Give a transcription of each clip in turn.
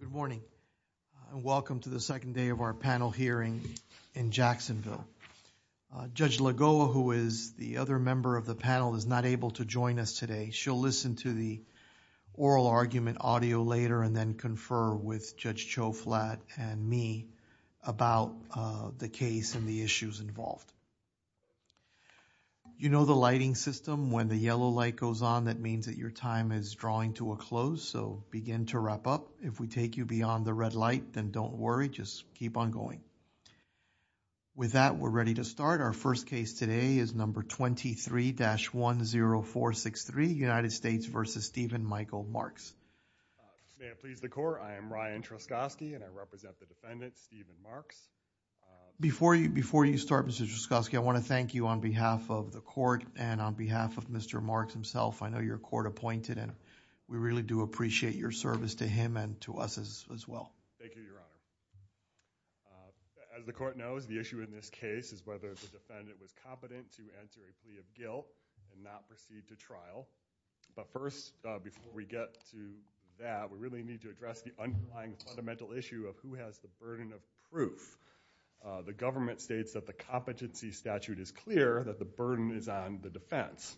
Good morning. Welcome to the second day of our panel hearing in Jacksonville. Judge Lagoa, who is the other member of the panel, is not able to join us today. She'll listen to the oral argument audio later and then confer with Judge Choflat and me about the case and the issues involved. You know the lighting system. When the yellow light goes on, that means that your time is drawing to a close, so begin to wrap up. If we take you beyond the red light, then don't worry. Just keep on going. With that, we're ready to start. Our first case today is number 23-10463, United States v. Steven Michael Marks. May it please the court. I am Ryan Truskoski and I represent the defendant, Steven Marks. Before you start, Mr. Truskoski, I want to thank you on behalf of the court and on behalf of Mr. Marks himself. I know you're court-appointed and we really do appreciate your service to him and to us as well. Steven Marks Thank you, Your Honor. As the court knows, the issue in this case is whether the defendant was competent to enter a plea of guilt and not proceed to trial. First, before we get to that, we really need to address the underlying fundamental issue of who has the burden of proof. The government states that the competency statute is clear that the burden is on the defense.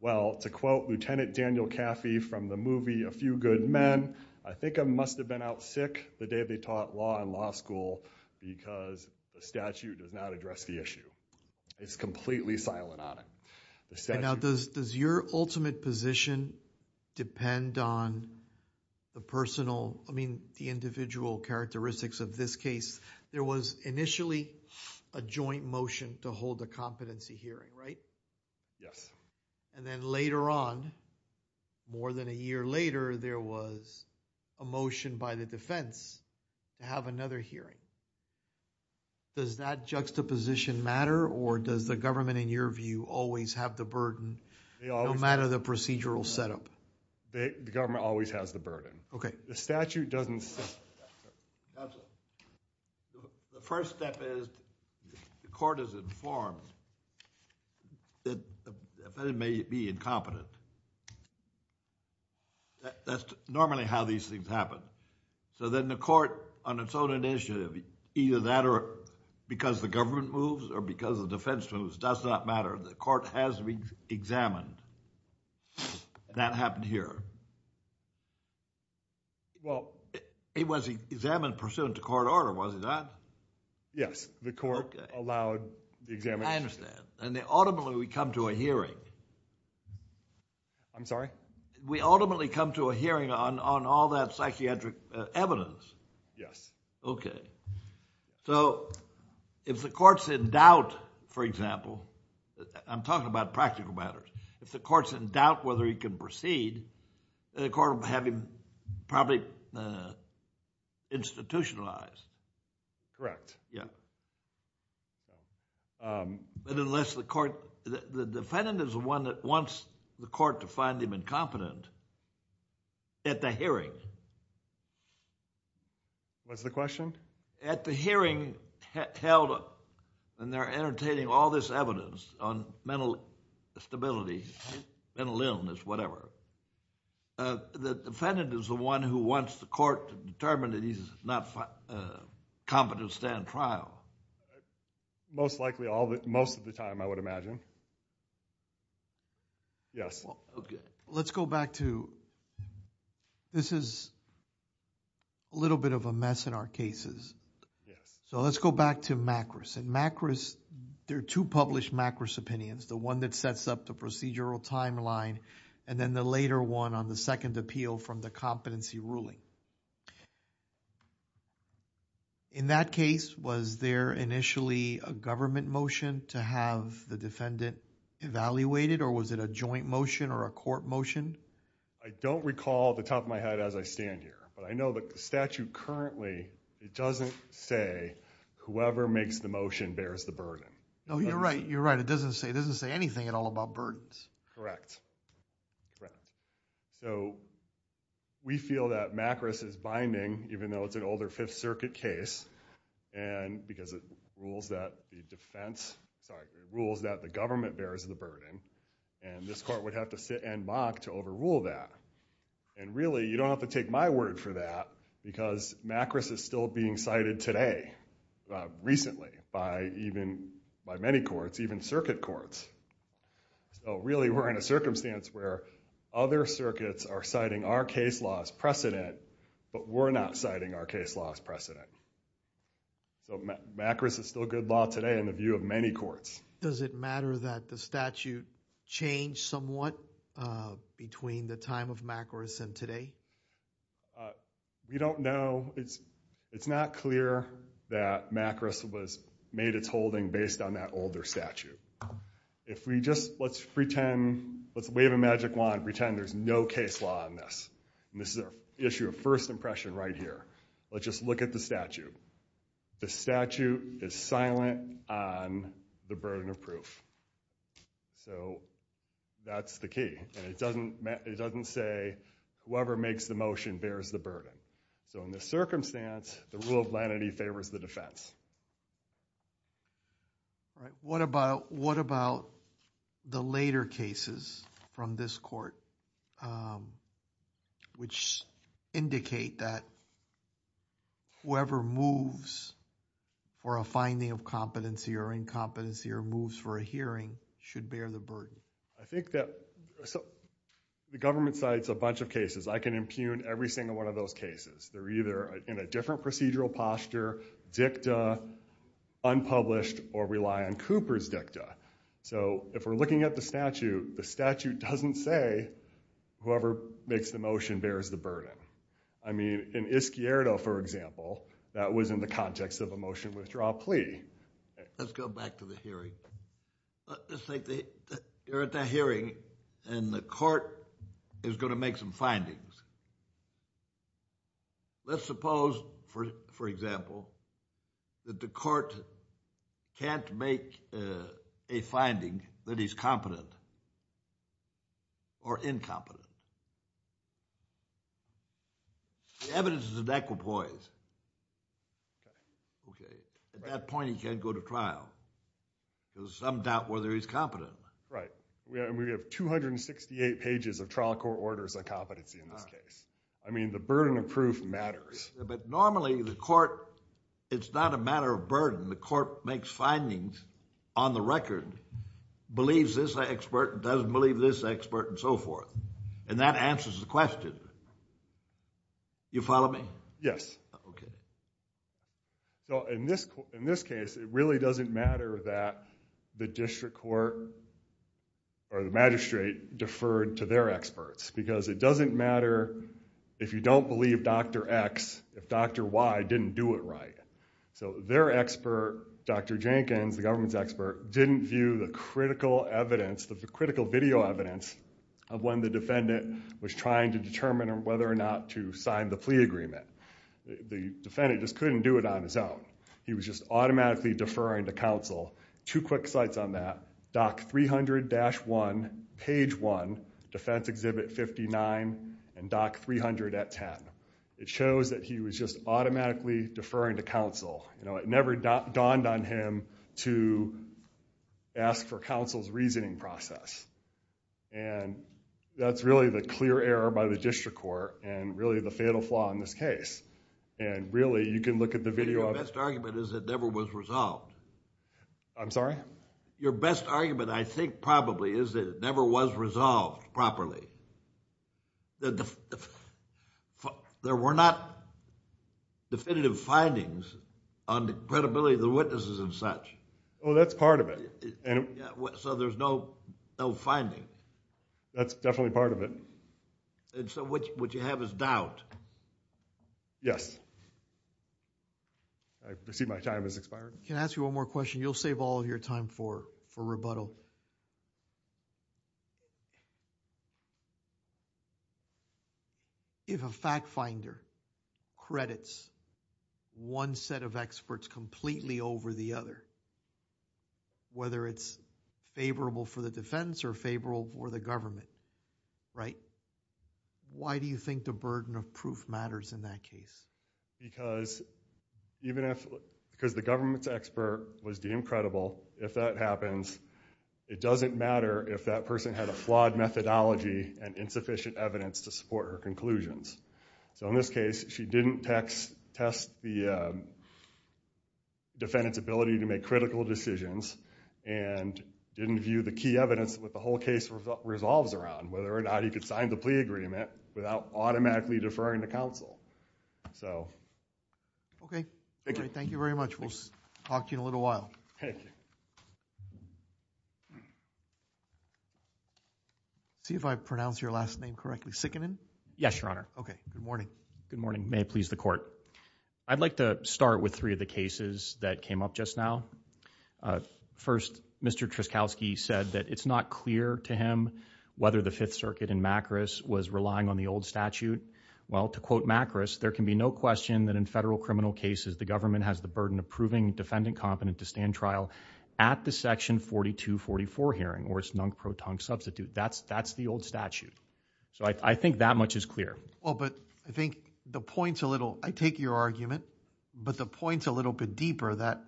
Well, to quote Lieutenant Daniel Caffey from the movie A Few Good Men, I think I must have been out sick the day they taught law in law school because the statute does not address the issue. It's completely silent on it. The statute... Judge Goldberg And now, does your ultimate position depend on the personal... I mean, the individual characteristics of this case? There was initially a joint motion to hold a competency hearing, right? Steven Marks Yes. Judge Goldberg And then later on, more than a year later, there was a motion by the defense to have another hearing. Does that juxtaposition matter or does the government, in your view, always have the burden no matter the procedural setup? Steven Marks The government always has the burden. Judge Goldberg Okay. Steven Marks The statute doesn't... The first step is the court is informed that the defendant may be incompetent. That's normally how these things happen. Then the court, on its own initiative, either that or because the government moves or because the defense moves, does not matter. The court has to be examined. That happened here. Judge Goldberg It was examined pursuant to court order, was it not? Steven Marks Yes. The court allowed the examination. Judge Goldberg I understand. Ultimately, we come to a hearing... Steven Marks I'm sorry? Judge Goldberg We ultimately come to a hearing on all that psychiatric evidence. Steven Marks Yes. Judge Goldberg Okay. If the court's in doubt, for example, I'm talking about practical matters. If the court's in doubt whether he can proceed, the court will have him probably institutionalized. Judge Goldberg Yes. Unless the court... the defendant is the one that wants the court to find him incompetent at the hearing. Steven Marks What's the question? Judge Goldberg At the hearing held, and they're entertaining all this evidence on mental instability, mental illness, whatever. The defendant is the one who wants the court to determine that he's not competent to stand trial. Steven Marks Most likely, most of the time, I would imagine. Yes. Judge Goldberg Let's go back to... this is a little bit of a mess in our cases. Let's go back to MACRS. MACRS, there are two published MACRS opinions, the one that sets up the procedural timeline, and then the later one on the second appeal from the competency ruling. In that case, was there initially a government motion to have the defendant evaluated, or was it a joint motion or a court motion? Steven Marks I don't recall off the top of my head as I stand here, but I know that the statute currently, it doesn't say whoever makes the motion bears the burden. Judge Goldberg You're right. It doesn't say anything at all about burdens. Steven Marks Correct. We feel that MACRS is binding, even though it's an older Fifth Circuit case, because it rules that the government bears the burden. This court would have to sit and mock to overrule that. Really, you don't have to take my word for that, because MACRS is still being cited today, recently, by many courts, even circuit courts. Really, we're in a circumstance where other circuits are citing our case law as precedent, but we're not citing our case law as precedent. MACRS is still good law today in the view of many courts. Judge Goldberg Does it matter that the statute changed somewhat between the time of MACRS and today? Steven Marks We don't know. It's not clear that MACRS made its holding based on that older statute. Let's wave a magic wand and pretend there's no case law on this. This is an issue of first impression right here. Let's just look at the statute. The statute is silent on the burden of proof. That's the key. It doesn't say, whoever makes the motion bears the burden. In this circumstance, the rule of lenity favors the defense. Judge Goldberg What about the later cases from this court, which indicate that whoever moves for a finding of competency or incompetency or moves for a hearing should bear the burden? Steven Marks I think that... the government cites a bunch of cases. I can impugn every single one of those cases. They're either in a different procedural posture, dicta, unpublished, or rely on Cooper's dicta. If we're looking at the statute, the statute doesn't say whoever makes the motion bears the burden. In Ischiardo, for example, that was in the context of a motion withdrawal plea. Judge Goldberg Let's go back to the hearing. Let's say you're at that hearing, and the court is going to make some findings. Let's suppose, for example, that the court can't make a finding that he's competent or incompetent. The evidence is inequipoise. At that point, he can't go to trial. There's some doubt whether he's competent. Steven Marks Right. We have 268 pages of trial court orders on competency in this case. I mean, the burden of proof matters. Judge Goldberg Normally, the court... it's not a matter of burden. The court makes findings on the record, believes this expert, doesn't believe this expert, and so forth, and that answers the question. You follow me? Steven Marks Yes. Judge Goldberg Okay. Steven Marks In this case, it really doesn't matter that the district court or the magistrate deferred to their experts because it doesn't matter if you don't believe Dr. X, if Dr. Y didn't do it right. Their expert, Dr. Jenkins, the government's expert, didn't view the critical evidence, the critical video evidence of when the defendant was trying to determine whether or not to sign the plea agreement. The defendant just couldn't do it on his own. He was just automatically deferring to counsel. Two quick sites on that, Doc 300-1, page 1, Defense Exhibit 59, and Doc 300-10. It shows that he was just automatically deferring to counsel. It never dawned on him to ask for counsel's reasoning process. That's really the clear error by the district court, and really the fatal flaw in this case. Really, you can look at the video... Judge Goldberg Your best argument is it never was resolved. Steven Marks I'm sorry? Judge Goldberg Your best argument, I think, probably, is that it never was resolved properly. There were not definitive findings on the credibility of the witnesses and such. Steven Marks Oh, that's part of it. Judge Goldberg So, there's no finding? Steven Marks That's definitely part of it. Judge Goldberg So, what you have is doubt? Steven Marks Yes. I see my time has expired. Judge Prado Can I ask you one more question? You'll save all of your time for rebuttal. If a fact finder credits one set of experts completely over the other, whether it's favorable for the defense or favorable for the government, why do you think the burden of proof matters in that case? Steven Marks Because the government's expert was deemed credible. If that happens, it doesn't matter if that person had a flawed methodology and insufficient evidence to support her conclusions. So, in this case, she didn't test the defendant's ability to make critical decisions and didn't view the key evidence of what the whole case resolves around, whether or not he could sign the plea agreement without automatically deferring to the court. Judge Goldberg Okay. Thank you very much. We'll talk to you in a little while. Steven Marks Thank you. See if I pronounced your last name correctly. Sikkanen? Steven Marks Yes, Your Honor. Judge Goldberg Okay. Good morning. Steven Marks Good morning. May it please the Court. I'd like to start with three of the cases that came up just now. First, Mr. Truskowski said that it's not clear to him whether the Fifth Circuit in Macris was relying on the old statute. Well, to quote Macris, there can be no question that in federal criminal cases, the government has the burden of proving defendant competent to stand trial at the Section 4244 hearing or its non-proton substitute. That's the old statute. So, I think that much is clear. Judge Truskowski Well, but I think the point's a little... I take your argument, but the point's a little bit deeper that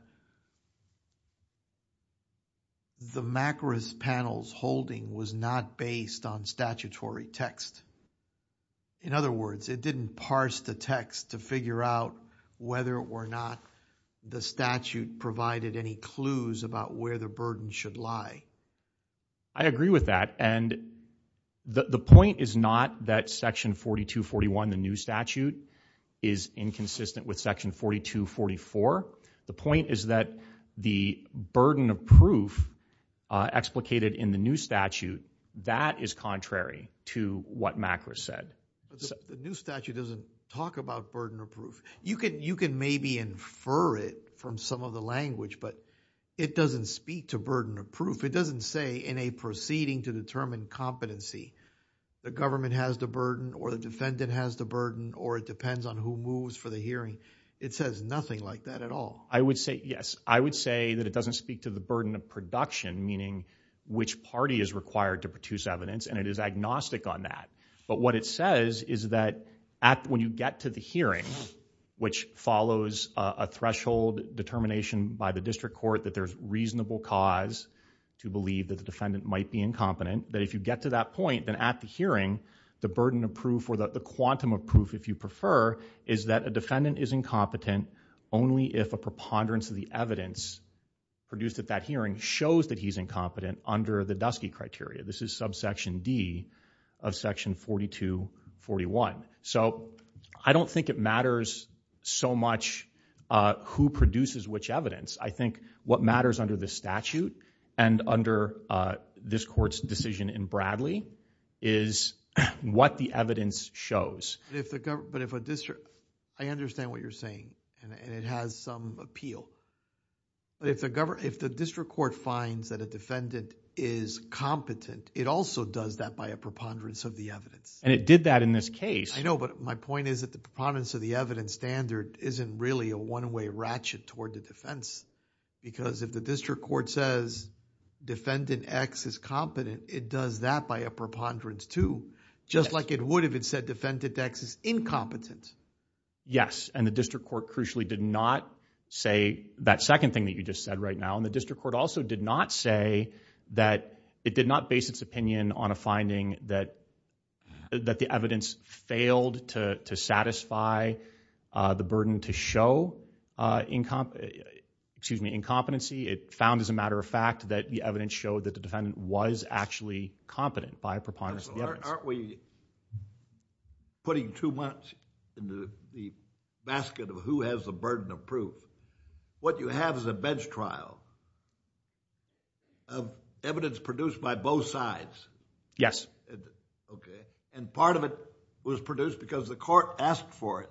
the Macris panel's holding was not based on statutory text. In other words, it didn't parse the text to figure out whether or not the statute provided any clues about where the burden should lie. Steven Marks I agree with that. And the point is not that Section 4241, the new statute, is inconsistent with Section 4244. The point is that the burden of proof explicated in the new statute, that is contrary to what Macris said. Judge Truskowski The new statute doesn't talk about burden of proof. You can maybe infer it from some of the language, but it doesn't speak to burden of proof. It doesn't say in a proceeding to determine competency, the government has the burden or the defendant has the burden or it depends on who moves for the hearing. It says nothing like that at all. I would say yes. I would say that it doesn't speak to the burden of production, meaning which party is required to produce evidence, and it is agnostic on that. But what it says is that when you get to the hearing, which follows a threshold determination by the district court that there's reasonable cause to believe that the defendant might be incompetent, that if you get to that point, then at the hearing, the burden of proof or the quantum of proof, if you prefer, is that a defendant is incompetent only if a preponderance of the evidence produced at that hearing shows that he's incompetent under the Dusky criteria. This is subsection D of section 4241. So I don't think it matters so much who produces which evidence. I think what matters under the statute and under this court's decision in Bradley is what the evidence shows. But if a district... I understand what you're saying, and it has some appeal. If the district court finds that a defendant is competent, it also does that by a preponderance of the evidence. I know, but my point is that the preponderance of the evidence standard isn't really a one-way ratchet toward the defense because if the district court says defendant X is competent, it does that by a preponderance too, just like it would if it said defendant X is incompetent. Yes, and the district court crucially did not say that second thing that you just said right now, and the district court also did not say that it did not base its opinion on a finding that the evidence failed to satisfy the burden to show incompetency. It found, as a matter of fact, that the evidence showed that the defendant was actually competent by a preponderance of the evidence. Aren't we putting too much in the basket of who has the burden of proof? What you have is a bench trial of evidence produced by both sides. Yes. Okay, and part of it was produced because the court asked for it.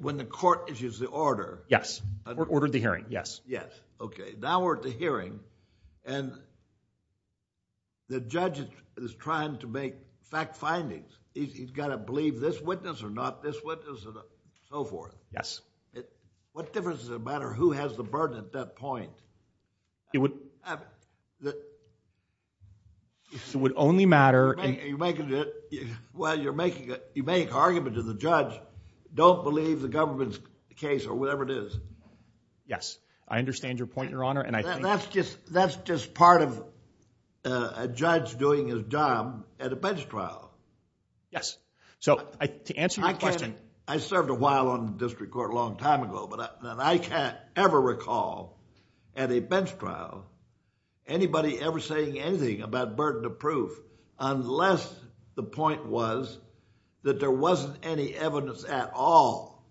When the court issues the order... Yes, ordered the hearing, yes. Yes, okay. Now we're at the hearing, and the judge is trying to make fact findings. He's got to believe this witness or not this witness and so forth. Yes. What difference does it matter who has the burden at that point? It would... It would only matter... Well, you're making an argument to the judge, don't believe the government's case or whatever it is. Yes, I understand your point, Your Honor, and I think... That's just part of a judge doing his job at a bench trial. Yes, so to answer your question... I served a while on the district court a long time ago, but I can't ever recall at a bench trial anybody ever saying anything about burden of proof unless the point was that there wasn't any evidence at all.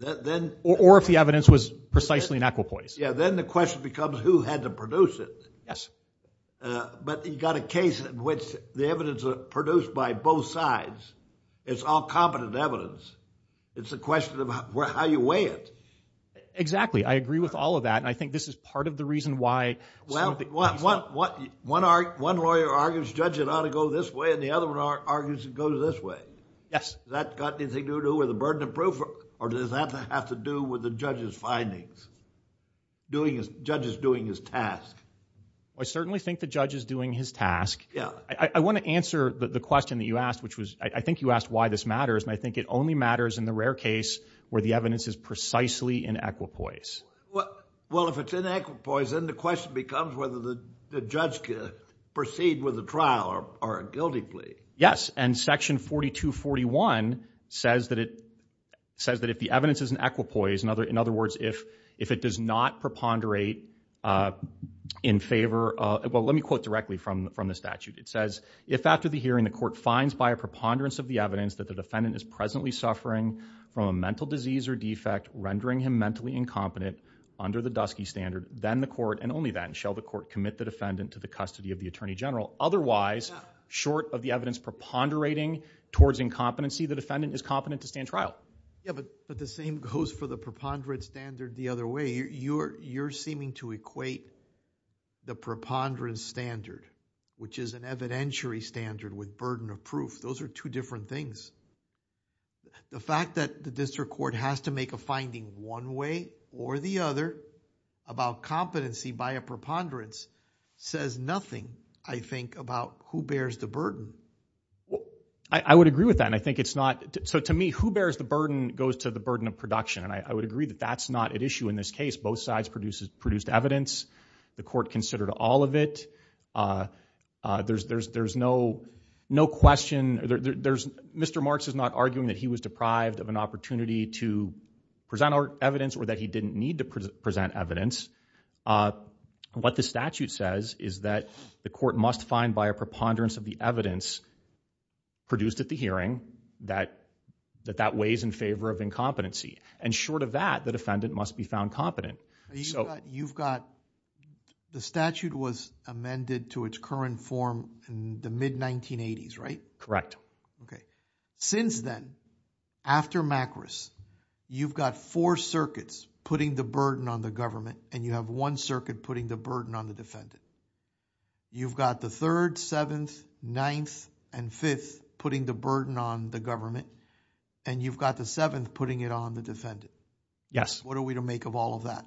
That then... Or if the evidence was precisely an equipoise. Yeah, then the question becomes who had to produce it. Yes. But you've got a case in which the evidence produced by both sides is all competent evidence. It's a question of how you weigh it. Exactly. I agree with all of that, and I think this is part of the reason why... Well, one lawyer argues the judge ought to go this way, and the other one argues it goes this way. Does that have anything to do with the burden of proof, or does that have to do with the judge's findings? The judge is doing his task. I certainly think the judge is doing his task. Yeah. I want to answer the question that you asked, which was... I think you asked why this matters, and I think it only matters in the rare case where the evidence is precisely an equipoise. Well, if it's an equipoise, then the question becomes whether the judge could proceed with the trial or a guilty plea. Yes, and section 4241 says that if the evidence is an equipoise... In other words, if it does not preponderate in favor... Well, let me quote directly from the statute. It says, if after the hearing the court finds by a preponderance of the evidence that the defendant is presently suffering from a mental disease or defect rendering him mentally incompetent under the Dusky Standard, then the court, and only then, shall the court to the custody of the Attorney General. Otherwise, short of the evidence preponderating towards incompetency, the defendant is competent to stand trial. Yeah, but the same goes for the preponderance standard the other way. You're seeming to equate the preponderance standard, which is an evidentiary standard with burden of proof. Those are two different things. The fact that the district court has to make a finding one way or the other about competency by a preponderance says nothing, I think, about who bears the burden. I would agree with that, and I think it's not... So, to me, who bears the burden goes to the burden of production, and I would agree that that's not at issue in this case. Both sides produced evidence. The court considered all of it. There's no question... Mr. Marks is not that he was deprived of an opportunity to present our evidence or that he didn't need to present evidence. What the statute says is that the court must find by a preponderance of the evidence produced at the hearing that that weighs in favor of incompetency, and short of that, the defendant must be found competent. You've got... The statute was amended to its current form in the mid-1980s, right? Correct. Okay. Since then, after MACRIS, you've got four circuits putting the burden on the government, and you have one circuit putting the burden on the defendant. You've got the third, seventh, ninth, and fifth putting the burden on the government, and you've got the seventh putting it on the defendant. Yes. What are we to make of all of that?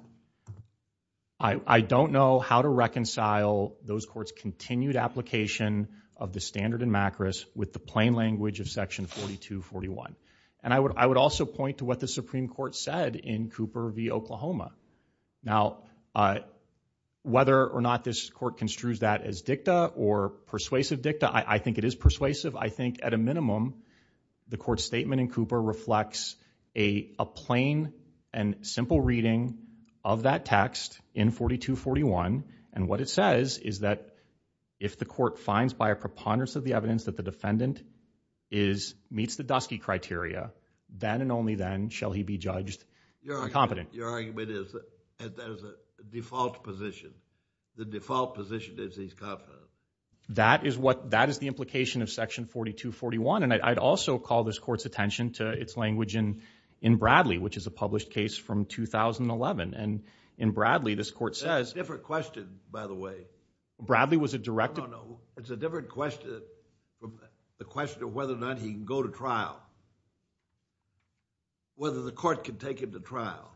I don't know how to reconcile those courts' continued application of the standard in MACRIS with the plain language of section 4241, and I would also point to what the Supreme Court said in Cooper v. Oklahoma. Now, whether or not this court construes that as dicta or persuasive dicta, I think it is persuasive. I think, at a minimum, the court statement in Cooper reflects a plain and simple reading of that text in 4241, and what it says is that if the court finds by a preponderance of the evidence that the defendant meets the Dusky criteria, then and only then shall he be judged incompetent. Your argument is that there's a default position. The default position is he's competent. That is the implication of section 4241, and I'd also call this court's language in Bradley, which is a published case from 2011, and in Bradley, this court says— That's a different question, by the way. Bradley was a direct— No, no, no. It's a different question from the question of whether or not he can go to trial, whether the court can take him to trial.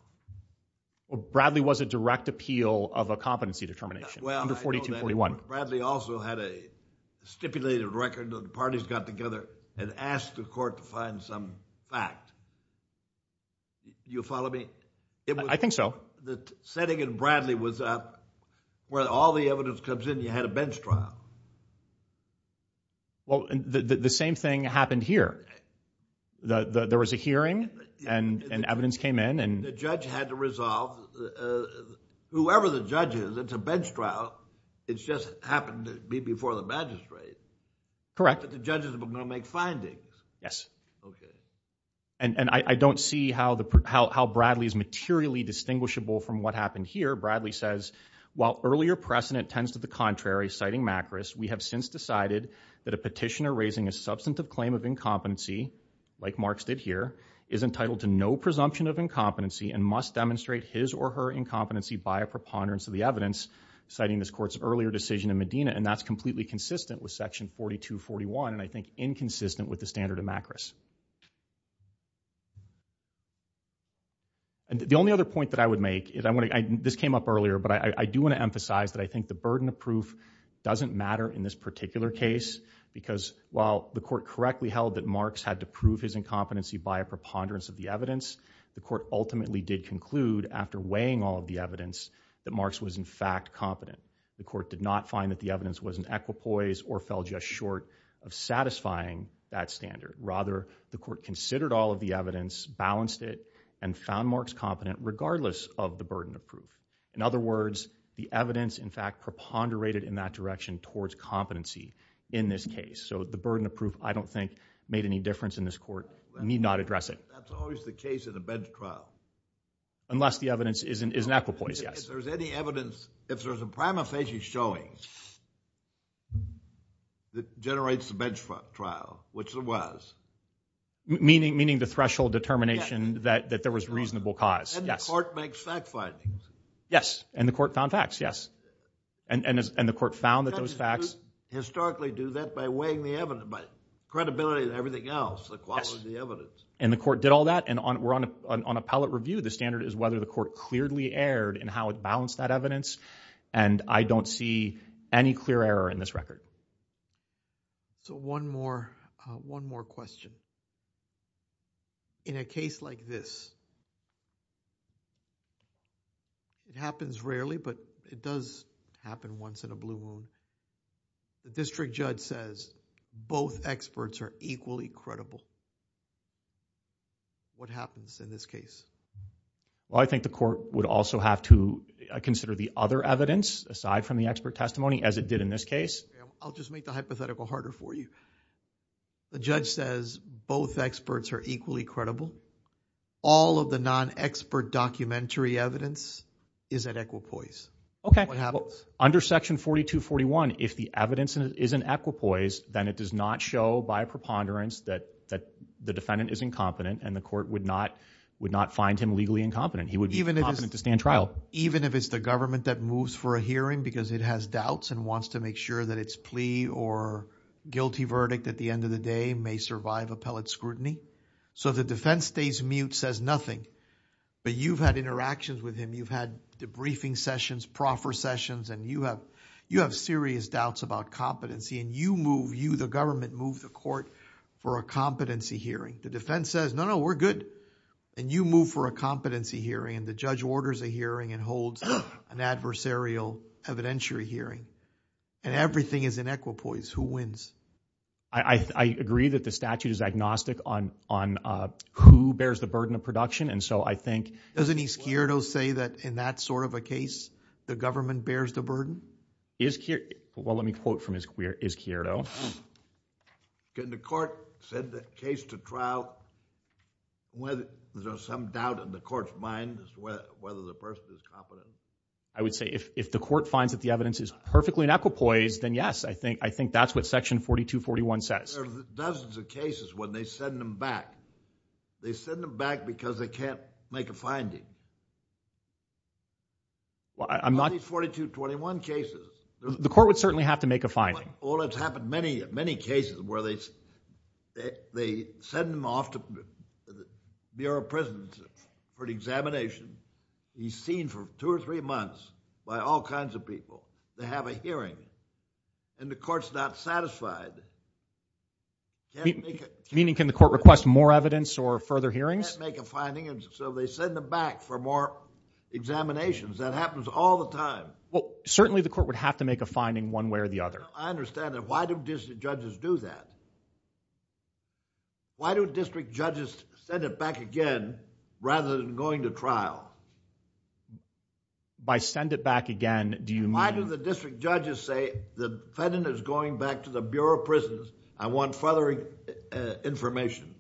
Well, Bradley was a direct appeal of a competency determination under 4241. Bradley also had a stipulated record that the parties got together and asked the court to find some fact. You follow me? I think so. The setting in Bradley was where all the evidence comes in, you had a bench trial. Well, the same thing happened here. There was a hearing, and evidence came in, and— The judge had to resolve—whoever the judge is, it's a bench trial, it just happened to be before the magistrate. Correct. But the judges were going to make findings. Yes. Okay. And I don't see how Bradley is materially distinguishable from what happened here. Bradley says, while earlier precedent tends to the contrary, citing Macris, we have since decided that a petitioner raising a substantive claim of incompetency, like Marx did here, is entitled to no presumption of incompetency and must demonstrate his or her incompetency by a preponderance of the evidence, citing this court's earlier decision in Medina, and that's completely consistent with section 4241, inconsistent with the standard of Macris. The only other point that I would make, this came up earlier, but I do want to emphasize that I think the burden of proof doesn't matter in this particular case, because while the court correctly held that Marx had to prove his incompetency by a preponderance of the evidence, the court ultimately did conclude, after weighing all of the evidence, that Marx was in fact competent. The court did not find that the evidence was an equipoise or fell just short of satisfying that standard. Rather, the court considered all of the evidence, balanced it, and found Marx competent, regardless of the burden of proof. In other words, the evidence, in fact, preponderated in that direction towards competency in this case. So the burden of proof, I don't think, made any difference in this court. Need not address it. That's always the case in a bench trial. Unless the evidence is an equipoise, yes. If there's any evidence, if there's a prima facie showing that generates the bench trial, which there was. Meaning the threshold determination that there was reasonable cause. And the court makes fact findings. Yes, and the court found facts, yes. And the court found that those facts. Historically do that by weighing the evidence, by credibility and everything else, the quality of the evidence. And the court did all that, and we're on a pallet review. The standard is whether the court clearly erred in how it balanced that evidence, and I don't see any clear error in this record. So one more, one more question. In a case like this, it happens rarely, but it does happen once in a blue moon. The district judge says both experts are equally credible. What happens in this case? Well, I think the court would also have to consider the other evidence, aside from the expert testimony, as it did in this case. I'll just make the hypothetical harder for you. The judge says both experts are equally credible. All of the non-expert documentary evidence is an equipoise. Okay. What happens? Under section 4241, if the evidence is an equipoise, then it does not show by preponderance that the defendant is incompetent, and the court would not find him legally incompetent. He would be competent to stand trial. Even if it's the government that moves for a hearing because it has doubts and wants to make sure that its plea or guilty verdict at the end of the day may survive appellate scrutiny. So if the defense stays mute, says nothing, but you've had interactions with him, you've had debriefing sessions, proffer sessions, and you have serious doubts about competency, and you move, you, the government, move the court for a competency hearing. The defense says, no, no, we're good, and you move for a competency hearing, and the judge orders a hearing and holds an adversarial evidentiary hearing, and everything is an equipoise. Who wins? I agree that the statute is agnostic on who bears the burden of production, and so I think... Doesn't Izquierdo say that in that sort of a case, the government bears the burden? Izquierdo... well, let me quote from Izquierdo. Can the court send the case to trial when there's some doubt in the court's mind as to whether the person is competent? I would say if the court finds that the evidence is perfectly in equipoise, then yes, I think that's what section 4241 says. There are dozens of cases when they send them back. They send them back because they can't make a finding. I'm not... On these 4241 cases... The court would certainly have to make a finding. Well, it's happened many, many cases where they send them off to the Bureau of Presidency for an examination. He's seen for two or three months by all kinds of people. They have a hearing, and the court's not satisfied. Meaning can the court request more evidence or further hearings? Can't make a finding, and so they send them back for more examinations. That happens all the time. Well, certainly the court would have to make a finding one way or the other. I understand that. Why do district judges do that? Why do district judges send it back again rather than going to trial? By send it back again, do you mean... Why do the district judges say the defendant is going back to the Bureau of Prisons? I want further information.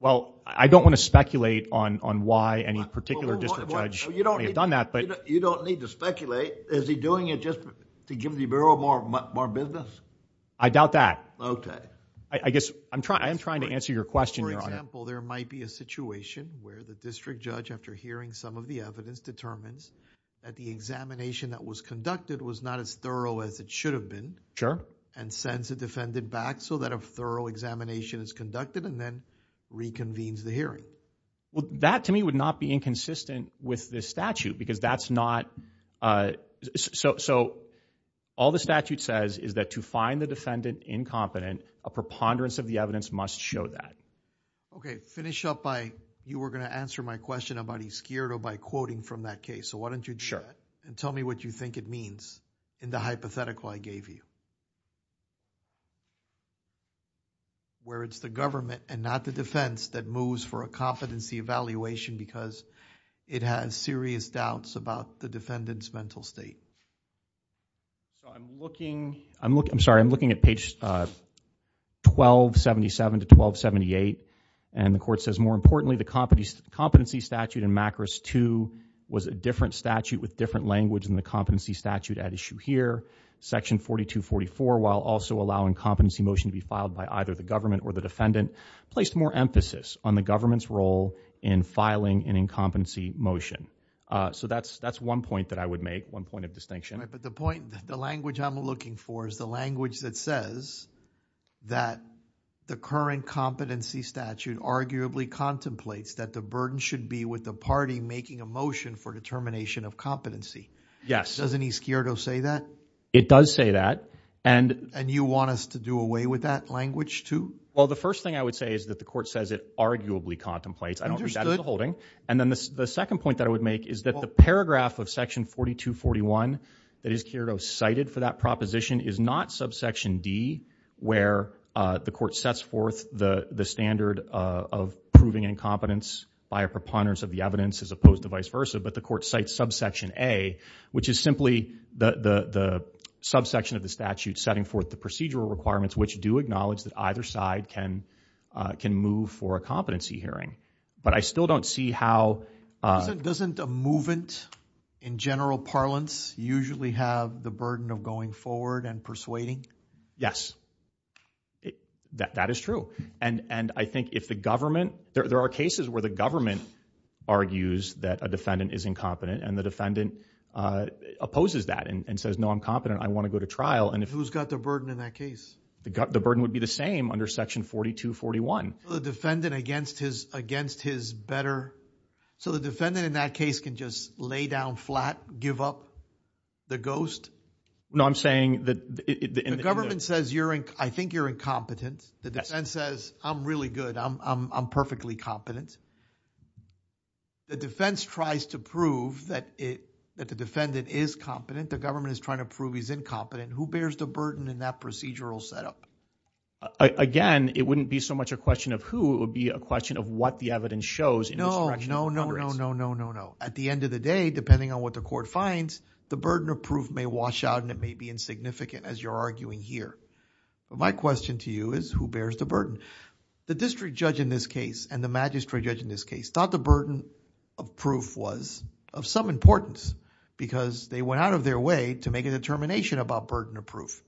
Well, I don't want to speculate on why any particular district judge may have done that, but... You don't need to speculate. Is he doing it just to give the Bureau more business? I doubt that. I guess I'm trying to answer your question, Your Honor. For example, there might be a situation where the district judge, after hearing some of the evidence, determines that the examination that was conducted was not as thorough as it should have been... Sure.... and sends a defendant back so that a thorough examination is conducted, and then reconvenes the hearing. Well, that to me would not be inconsistent with this statute, because that's not... So, all the statute says is that to find the defendant incompetent, a preponderance of the evidence must show that. Okay. Finish up by... You were going to answer my question about he's scared or by quoting from that case. So, why don't you do that...... and tell me what you think it means in the hypothetical I gave you, where it's the government and not the defense that moves for a competency evaluation because it has serious doubts about the defendant's mental state. So, I'm looking... I'm looking... I'm sorry. I'm looking at page 1277 to 1278, and the court says, more importantly, the competency statute in MACRS 2 was a different statute with different language than the competency statute at issue here. Section 4244, while also allowing competency motion to be filed by either the government or the defendant, placed more emphasis on the government's role in filing an incompetency motion. So, that's one point that I would make, one point of distinction. But the point... the language I'm looking for is the language that says that the current competency statute arguably contemplates that the burden should be with the party making a motion for determination of competency. Yes. Doesn't East Kyrgios say that? It does say that, and... And you want us to do away with that language, too? Well, the first thing I would say is that the court says it arguably contemplates. I don't think that is a holding. And then, the second point that I would make is that the paragraph of section 4241 that East Kyrgios cited for that proposition is not subsection D, where the court sets forth the standard of proving incompetence by a preponderance of the evidence as opposed to vice versa, but the court cites subsection A, which is simply the subsection of the statute setting forth the procedural requirements, which do acknowledge that either side can move for a competency hearing. But I still don't see how... Doesn't a movant, in general parlance, usually have the burden of going forward and persuading? Yes. That is true. And I think if the government... There are cases where the government argues that a defendant is incompetent, and the defendant opposes that and says, no, I'm competent. I want to go to trial. And who's got the burden in that case? The burden would be the same under section 4241. The defendant against his better... So the defendant in that case can just lay down flat, give up the ghost? No, I'm saying that... The government says, I think you're incompetent. The defense says, I'm really good. I'm perfectly competent. The defense tries to prove that the defendant is competent. The government is trying to prove he's incompetent. Who bears the burden in that procedural setup? Again, it wouldn't be so much a question of who. It would be a question of what the evidence shows. No, no, no, no, no, no, no, no. At the end of the day, depending on what the court finds, the burden of proof may wash out and it may be insignificant as you're arguing here. But my question to you is, who bears the burden? The district judge in this case and the magistrate judge in this case thought the burden of proof was of some importance because they went out of their way to make a determination about burden of proof.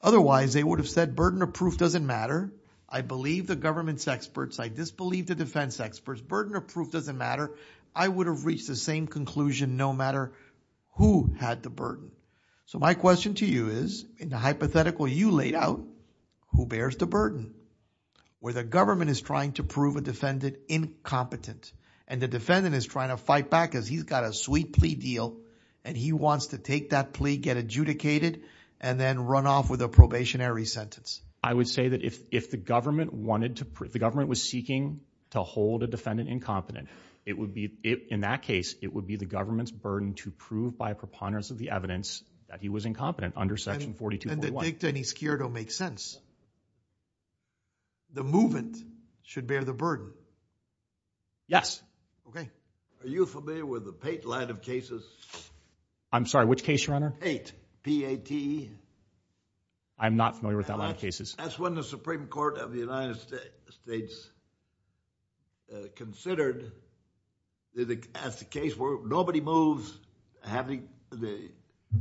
Otherwise, they would have said burden of proof doesn't matter. I believe the government's experts. I disbelieve the defense experts. Burden of proof doesn't matter. I would have reached the same conclusion no matter who had the burden. So my question to you is, in the hypothetical you laid out, who bears the burden? Where the government is trying to prove a defendant incompetent and the defendant is trying to fight back because he's got a sweet plea deal and he wants to take that plea, get adjudicated, and then run off with a probationary sentence. I would say that if the government wanted to, the government was seeking to hold a defendant incompetent, it would be, in that case, it would be the government's burden to prove by preponderance of the evidence that he was incompetent under section 42.1. And the dicta in this case don't make sense. The movement should bear the burden. Yes. Okay. Are you familiar with the Pate line of cases? I'm sorry, which case, your honor? Pate, P-A-T-E. I'm not familiar with that line of cases. That's when the Supreme Court of the United States considered as the case where nobody moves having the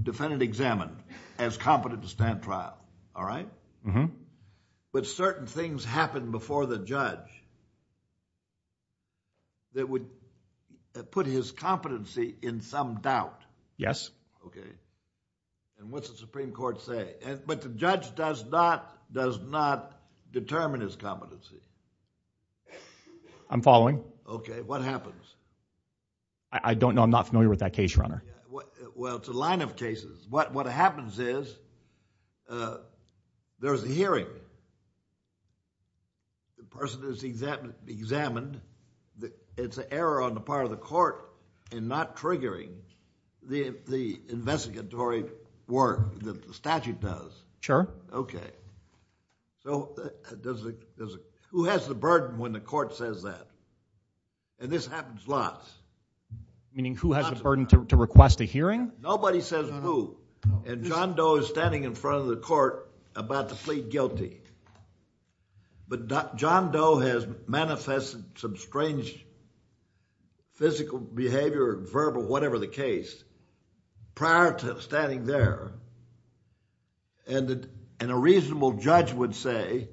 defendant examined as competent to stand trial, all right? Mm-hmm. But certain things happen before the judge that would put his competency in some doubt. Yes. Okay. And what's the Supreme Court say? But the judge does not, does not determine his competency. I'm following. Okay. What happens? I don't know. I'm not familiar with that case, your honor. Well, it's a line of cases. What happens is there's a hearing. The person is examined. It's an error on the part of the court in not triggering the investigatory work that the statute does. Sure. Okay. So who has the burden when the court says that? And this happens lots. Meaning who has the burden to request a hearing? Nobody says who. And John Doe is standing in front of the court about to plead guilty. But John Doe has manifested some strange physical behavior, verbal, whatever the case prior to standing there. And a reasonable judge would say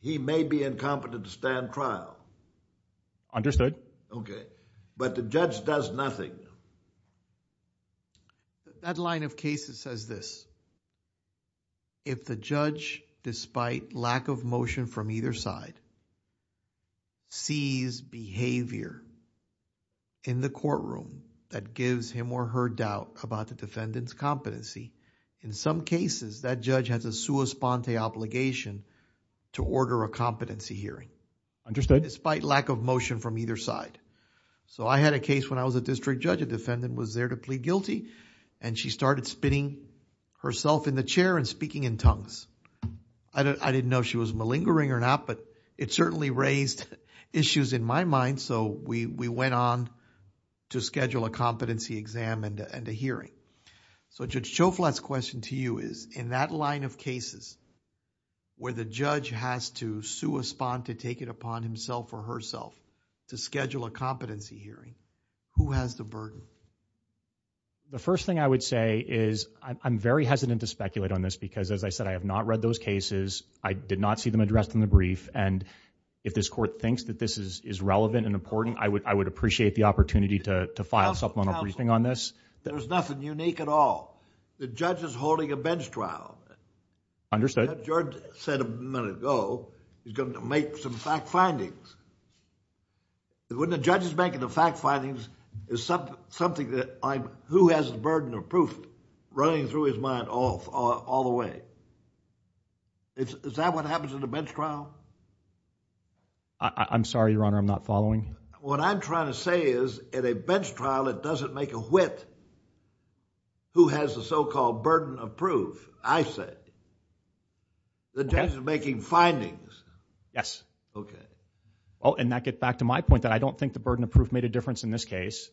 he may be incompetent to stand trial. Understood. Okay. But the judge does nothing. That line of cases says this. If the judge, despite lack of motion from either side, sees behavior in the courtroom that gives him or her doubt about the defendant's competency, in some cases that judge has a sua sponte obligation to order a competency hearing. Understood. Despite lack of motion from either side. So I had a case when I was a district judge, a defendant was there to plead guilty and she started spinning herself in the chair and speaking in tongues. I didn't know if she was malingering or not, but it certainly raised issues in my mind. So we went on to schedule a competency exam and a hearing. So Judge Choflat's question to you is, in that line of cases where the judge has to sua sponte to take it upon himself or herself to schedule a competency hearing, who has the burden? The first thing I would say is I'm very hesitant to speculate on this because, as I said, I have not read those cases. I did not see them addressed in the brief. And if this court thinks that this is relevant and important, I would appreciate the opportunity to file a supplemental briefing on this. There's nothing unique at all. The judge is holding a bench trial. Understood. Judge said a minute ago, he's going to make some fact findings. When the judge is making the fact findings, it's something that who has the burden of proof running through his mind all the way. Is that what happens in the bench trial? I'm sorry, Your Honor, I'm not following. What I'm trying to say is at a bench trial, it doesn't make a wit who has the so-called burden of proof, I say. The judge is making findings. Yes. Okay. Oh, and that gets back to my point that I don't think the burden of proof made a difference in this case.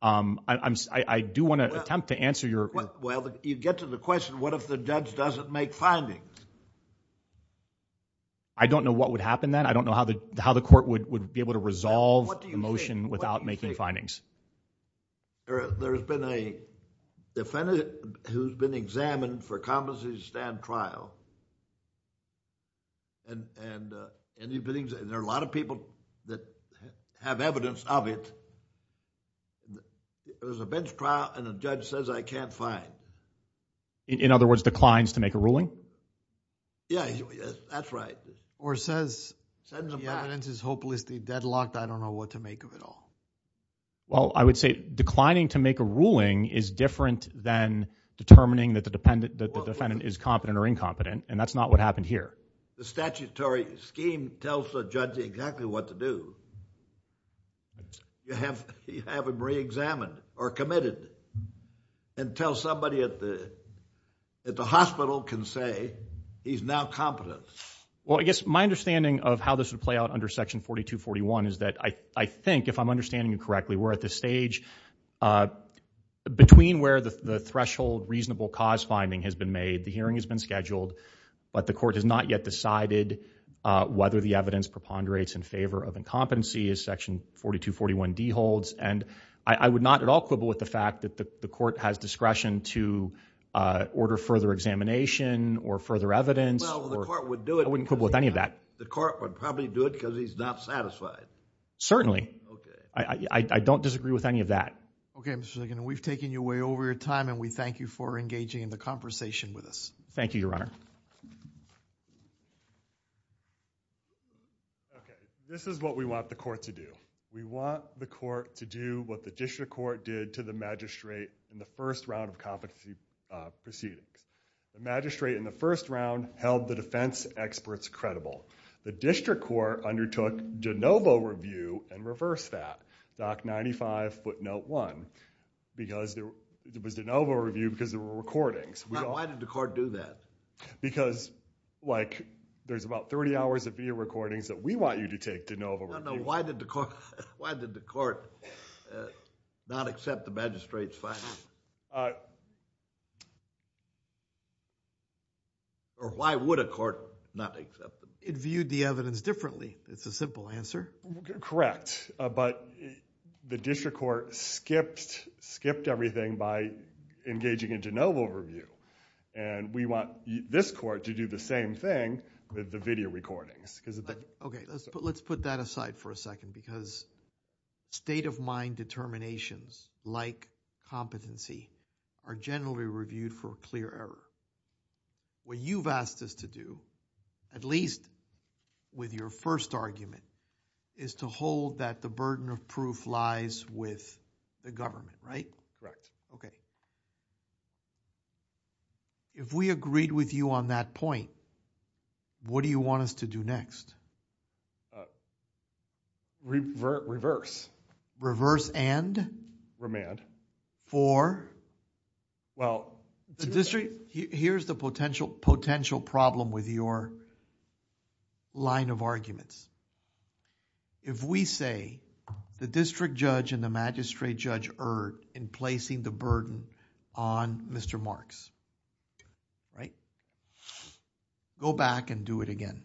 I do want to attempt to answer your... Well, you get to the question, what if the judge doesn't make findings? I don't know what would happen then. I don't know how the court would be able to resolve the motion without making findings. There's been a defendant who's been examined for a competency to stand trial. And there are a lot of people that have evidence of it. There's a bench trial and a judge says, I can't find. In other words, declines to make a ruling? Yeah, that's right. Or says, the evidence is hopelessly deadlocked. I don't know what to make of it all. Well, I would say declining to make a ruling is different than determining that the defendant is competent or incompetent. And that's not what happened here. The statutory scheme tells the judge exactly what to do. You have him re-examined or committed until somebody at the hospital can say he's now competent. Well, I guess my understanding of how this would play out under Section 4241 is that I think, if I'm understanding you correctly, we're at this stage between where the threshold reasonable cause finding has been made, the hearing has been scheduled, but the court has not yet decided whether the evidence preponderates in favor of incompetency as Section 4241D holds. And I would not at all quibble with the fact that the court has discretion to order further examination or further evidence. Well, the court would do it. I wouldn't quibble with any of that. The court would probably do it because he's not satisfied. Okay. I don't disagree with any of that. Okay, Mr. Ligon, we've taken you way over your time and we thank you for engaging in the conversation with us. Thank you, Your Honor. Okay. This is what we want the court to do. We want the court to do what the district court did to the magistrate in the first round of competency proceedings. The magistrate in the first round held the defense experts credible. The district court undertook de novo review and reversed that, Doc 95, footnote 1, because there was de novo review because there were recordings. Now, why did the court do that? Because, like, there's about 30 hours of video recordings that we want you to take de novo. No, no, why did the court not accept the magistrate's findings? Or why would a court not accept them? It viewed the evidence differently. It's a simple answer. Correct. But the district court skipped everything by engaging in de novo review. We want this court to do the same thing with the video recordings. Okay, let's put that aside for a second because state of mind determinations like competency are generally reviewed for a clear error. What you've asked us to do, at least with your first argument, is to hold that the burden of proof lies with the government, right? Correct. If we agreed with you on that point, what do you want us to do next? Reverse. Reverse and? For? Well, here's the potential problem with your line of arguments. If we say the district judge and the magistrate judge erred in placing the burden on Mr. Marks, right? Go back and do it again.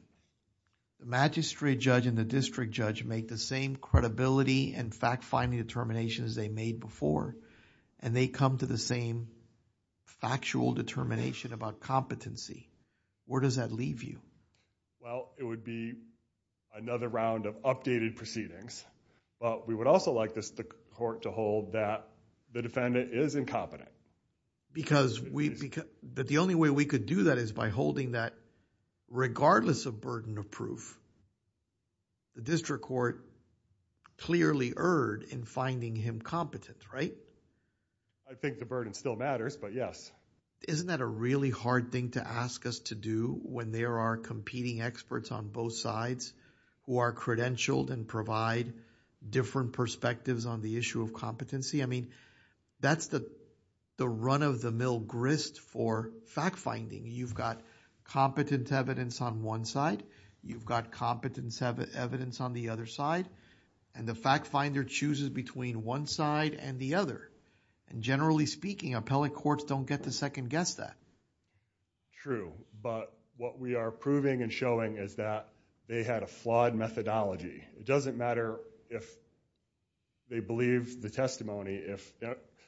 The magistrate judge and the district judge make the same credibility and fact-finding determinations they made before and they come to the same factual determination about competency. Where does that leave you? Well, it would be another round of updated proceedings, but we would also like the court to hold that the defendant is incompetent. The only way we could do that is by holding that regardless of burden of proof, the district court clearly erred in finding him competent, right? I think the burden still matters, but yes. Isn't that a really hard thing to ask us to do when there are competing experts on both sides who are credentialed and provide different perspectives on the issue of competency? I mean, that's the run-of-the-mill grist for fact-finding. You've got competent evidence on one side, you've got competent evidence on the other side, and the fact-finder chooses between one side and the other. And generally speaking, appellate courts don't get to second-guess that. True, but what we are proving and showing is that they had a flawed methodology. It doesn't matter if they believe the testimony,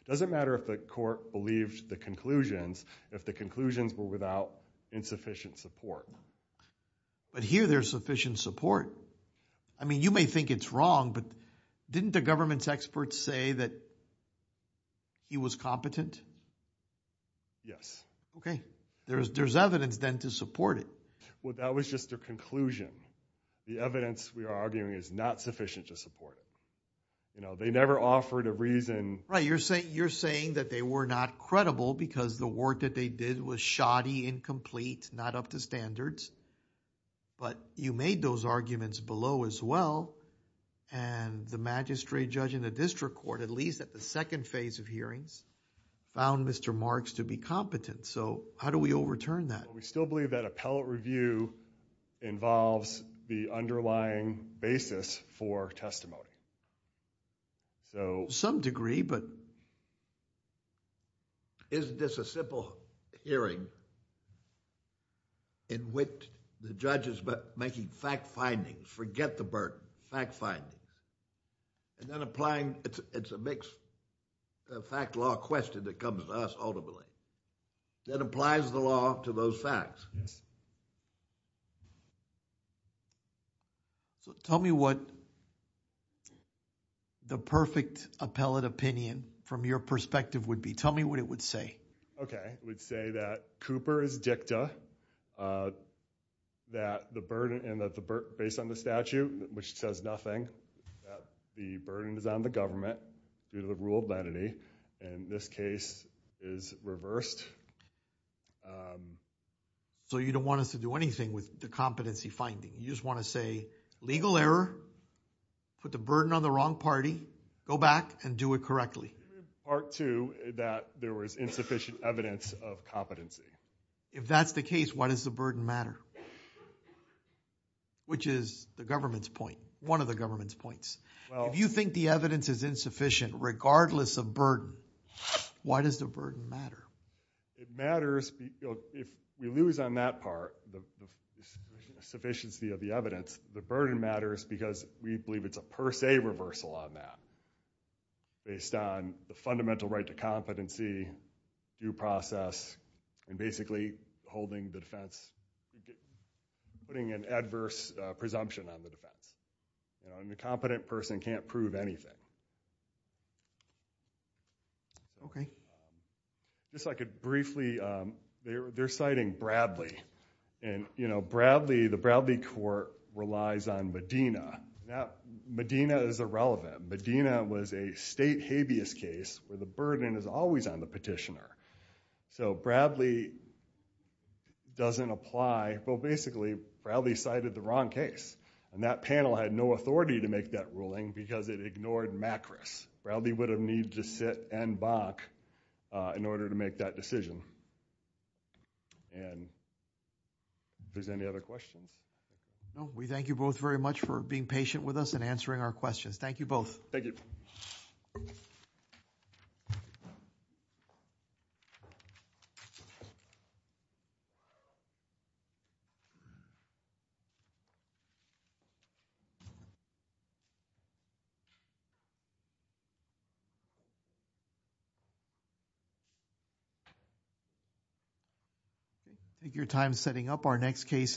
doesn't matter if the court believes the conclusions, if the conclusions were without insufficient support. But here there's sufficient support. I mean, you may think it's wrong, but didn't the government's experts say that he was competent? Okay, there's evidence then to support it. Well, that was just their conclusion. The evidence we are arguing is not sufficient to support it. You know, they never offered a reason. Right, you're saying that they were not credible because the work that they did was shoddy, incomplete, not up to standards. But you made those arguments below as well, and the magistrate judge in the district court, at least at the second phase of hearings, found Mr. Marks to be competent. So, how do we overturn that? We still believe that appellate review involves the underlying basis for testimony. To some degree, but... Isn't this a simple hearing in which the judge is making fact findings, forget the burden, fact findings, and then applying... It's a mixed fact law question that comes to us ultimately, that applies the law to those facts. Tell me what the perfect appellate opinion from your perspective would be. Tell me what it would say. Okay, it would say that Cooper is dicta, and that based on the statute, which says nothing, the burden is on the government due to the rule of lenity, and this case is reversed. So, you don't want us to do anything with the competency finding. You just want to say, legal error, put the burden on the wrong party, go back and do it correctly. Part two, that there was insufficient evidence of competency. If that's the case, why does the burden matter? Which is the government's point, one of the government's points. If you think the evidence is insufficient regardless of burden, why does the burden matter? It matters if we lose on that part, the sufficiency of the evidence, the burden matters because we believe it's a per se reversal on that, based on the fundamental right to competency, due process, and basically holding the defense, putting an adverse presumption on the defense. The competent person can't prove anything. Okay. Just like briefly, they're citing Bradley, and the Bradley court relies on Medina. Medina is irrelevant. Medina was a state habeas case where the burden is always on the petitioner. So, Bradley doesn't apply. Well, basically, Bradley cited the wrong case, and that panel had no authority to make that ruling because it ignored MACRIS. Bradley would have needed to sit and balk in order to make that decision. And, if there's any other questions? No. We thank you both very much for being patient with us and answering our questions. Thank you both. Thank you. I think your time's setting up. Our next case is...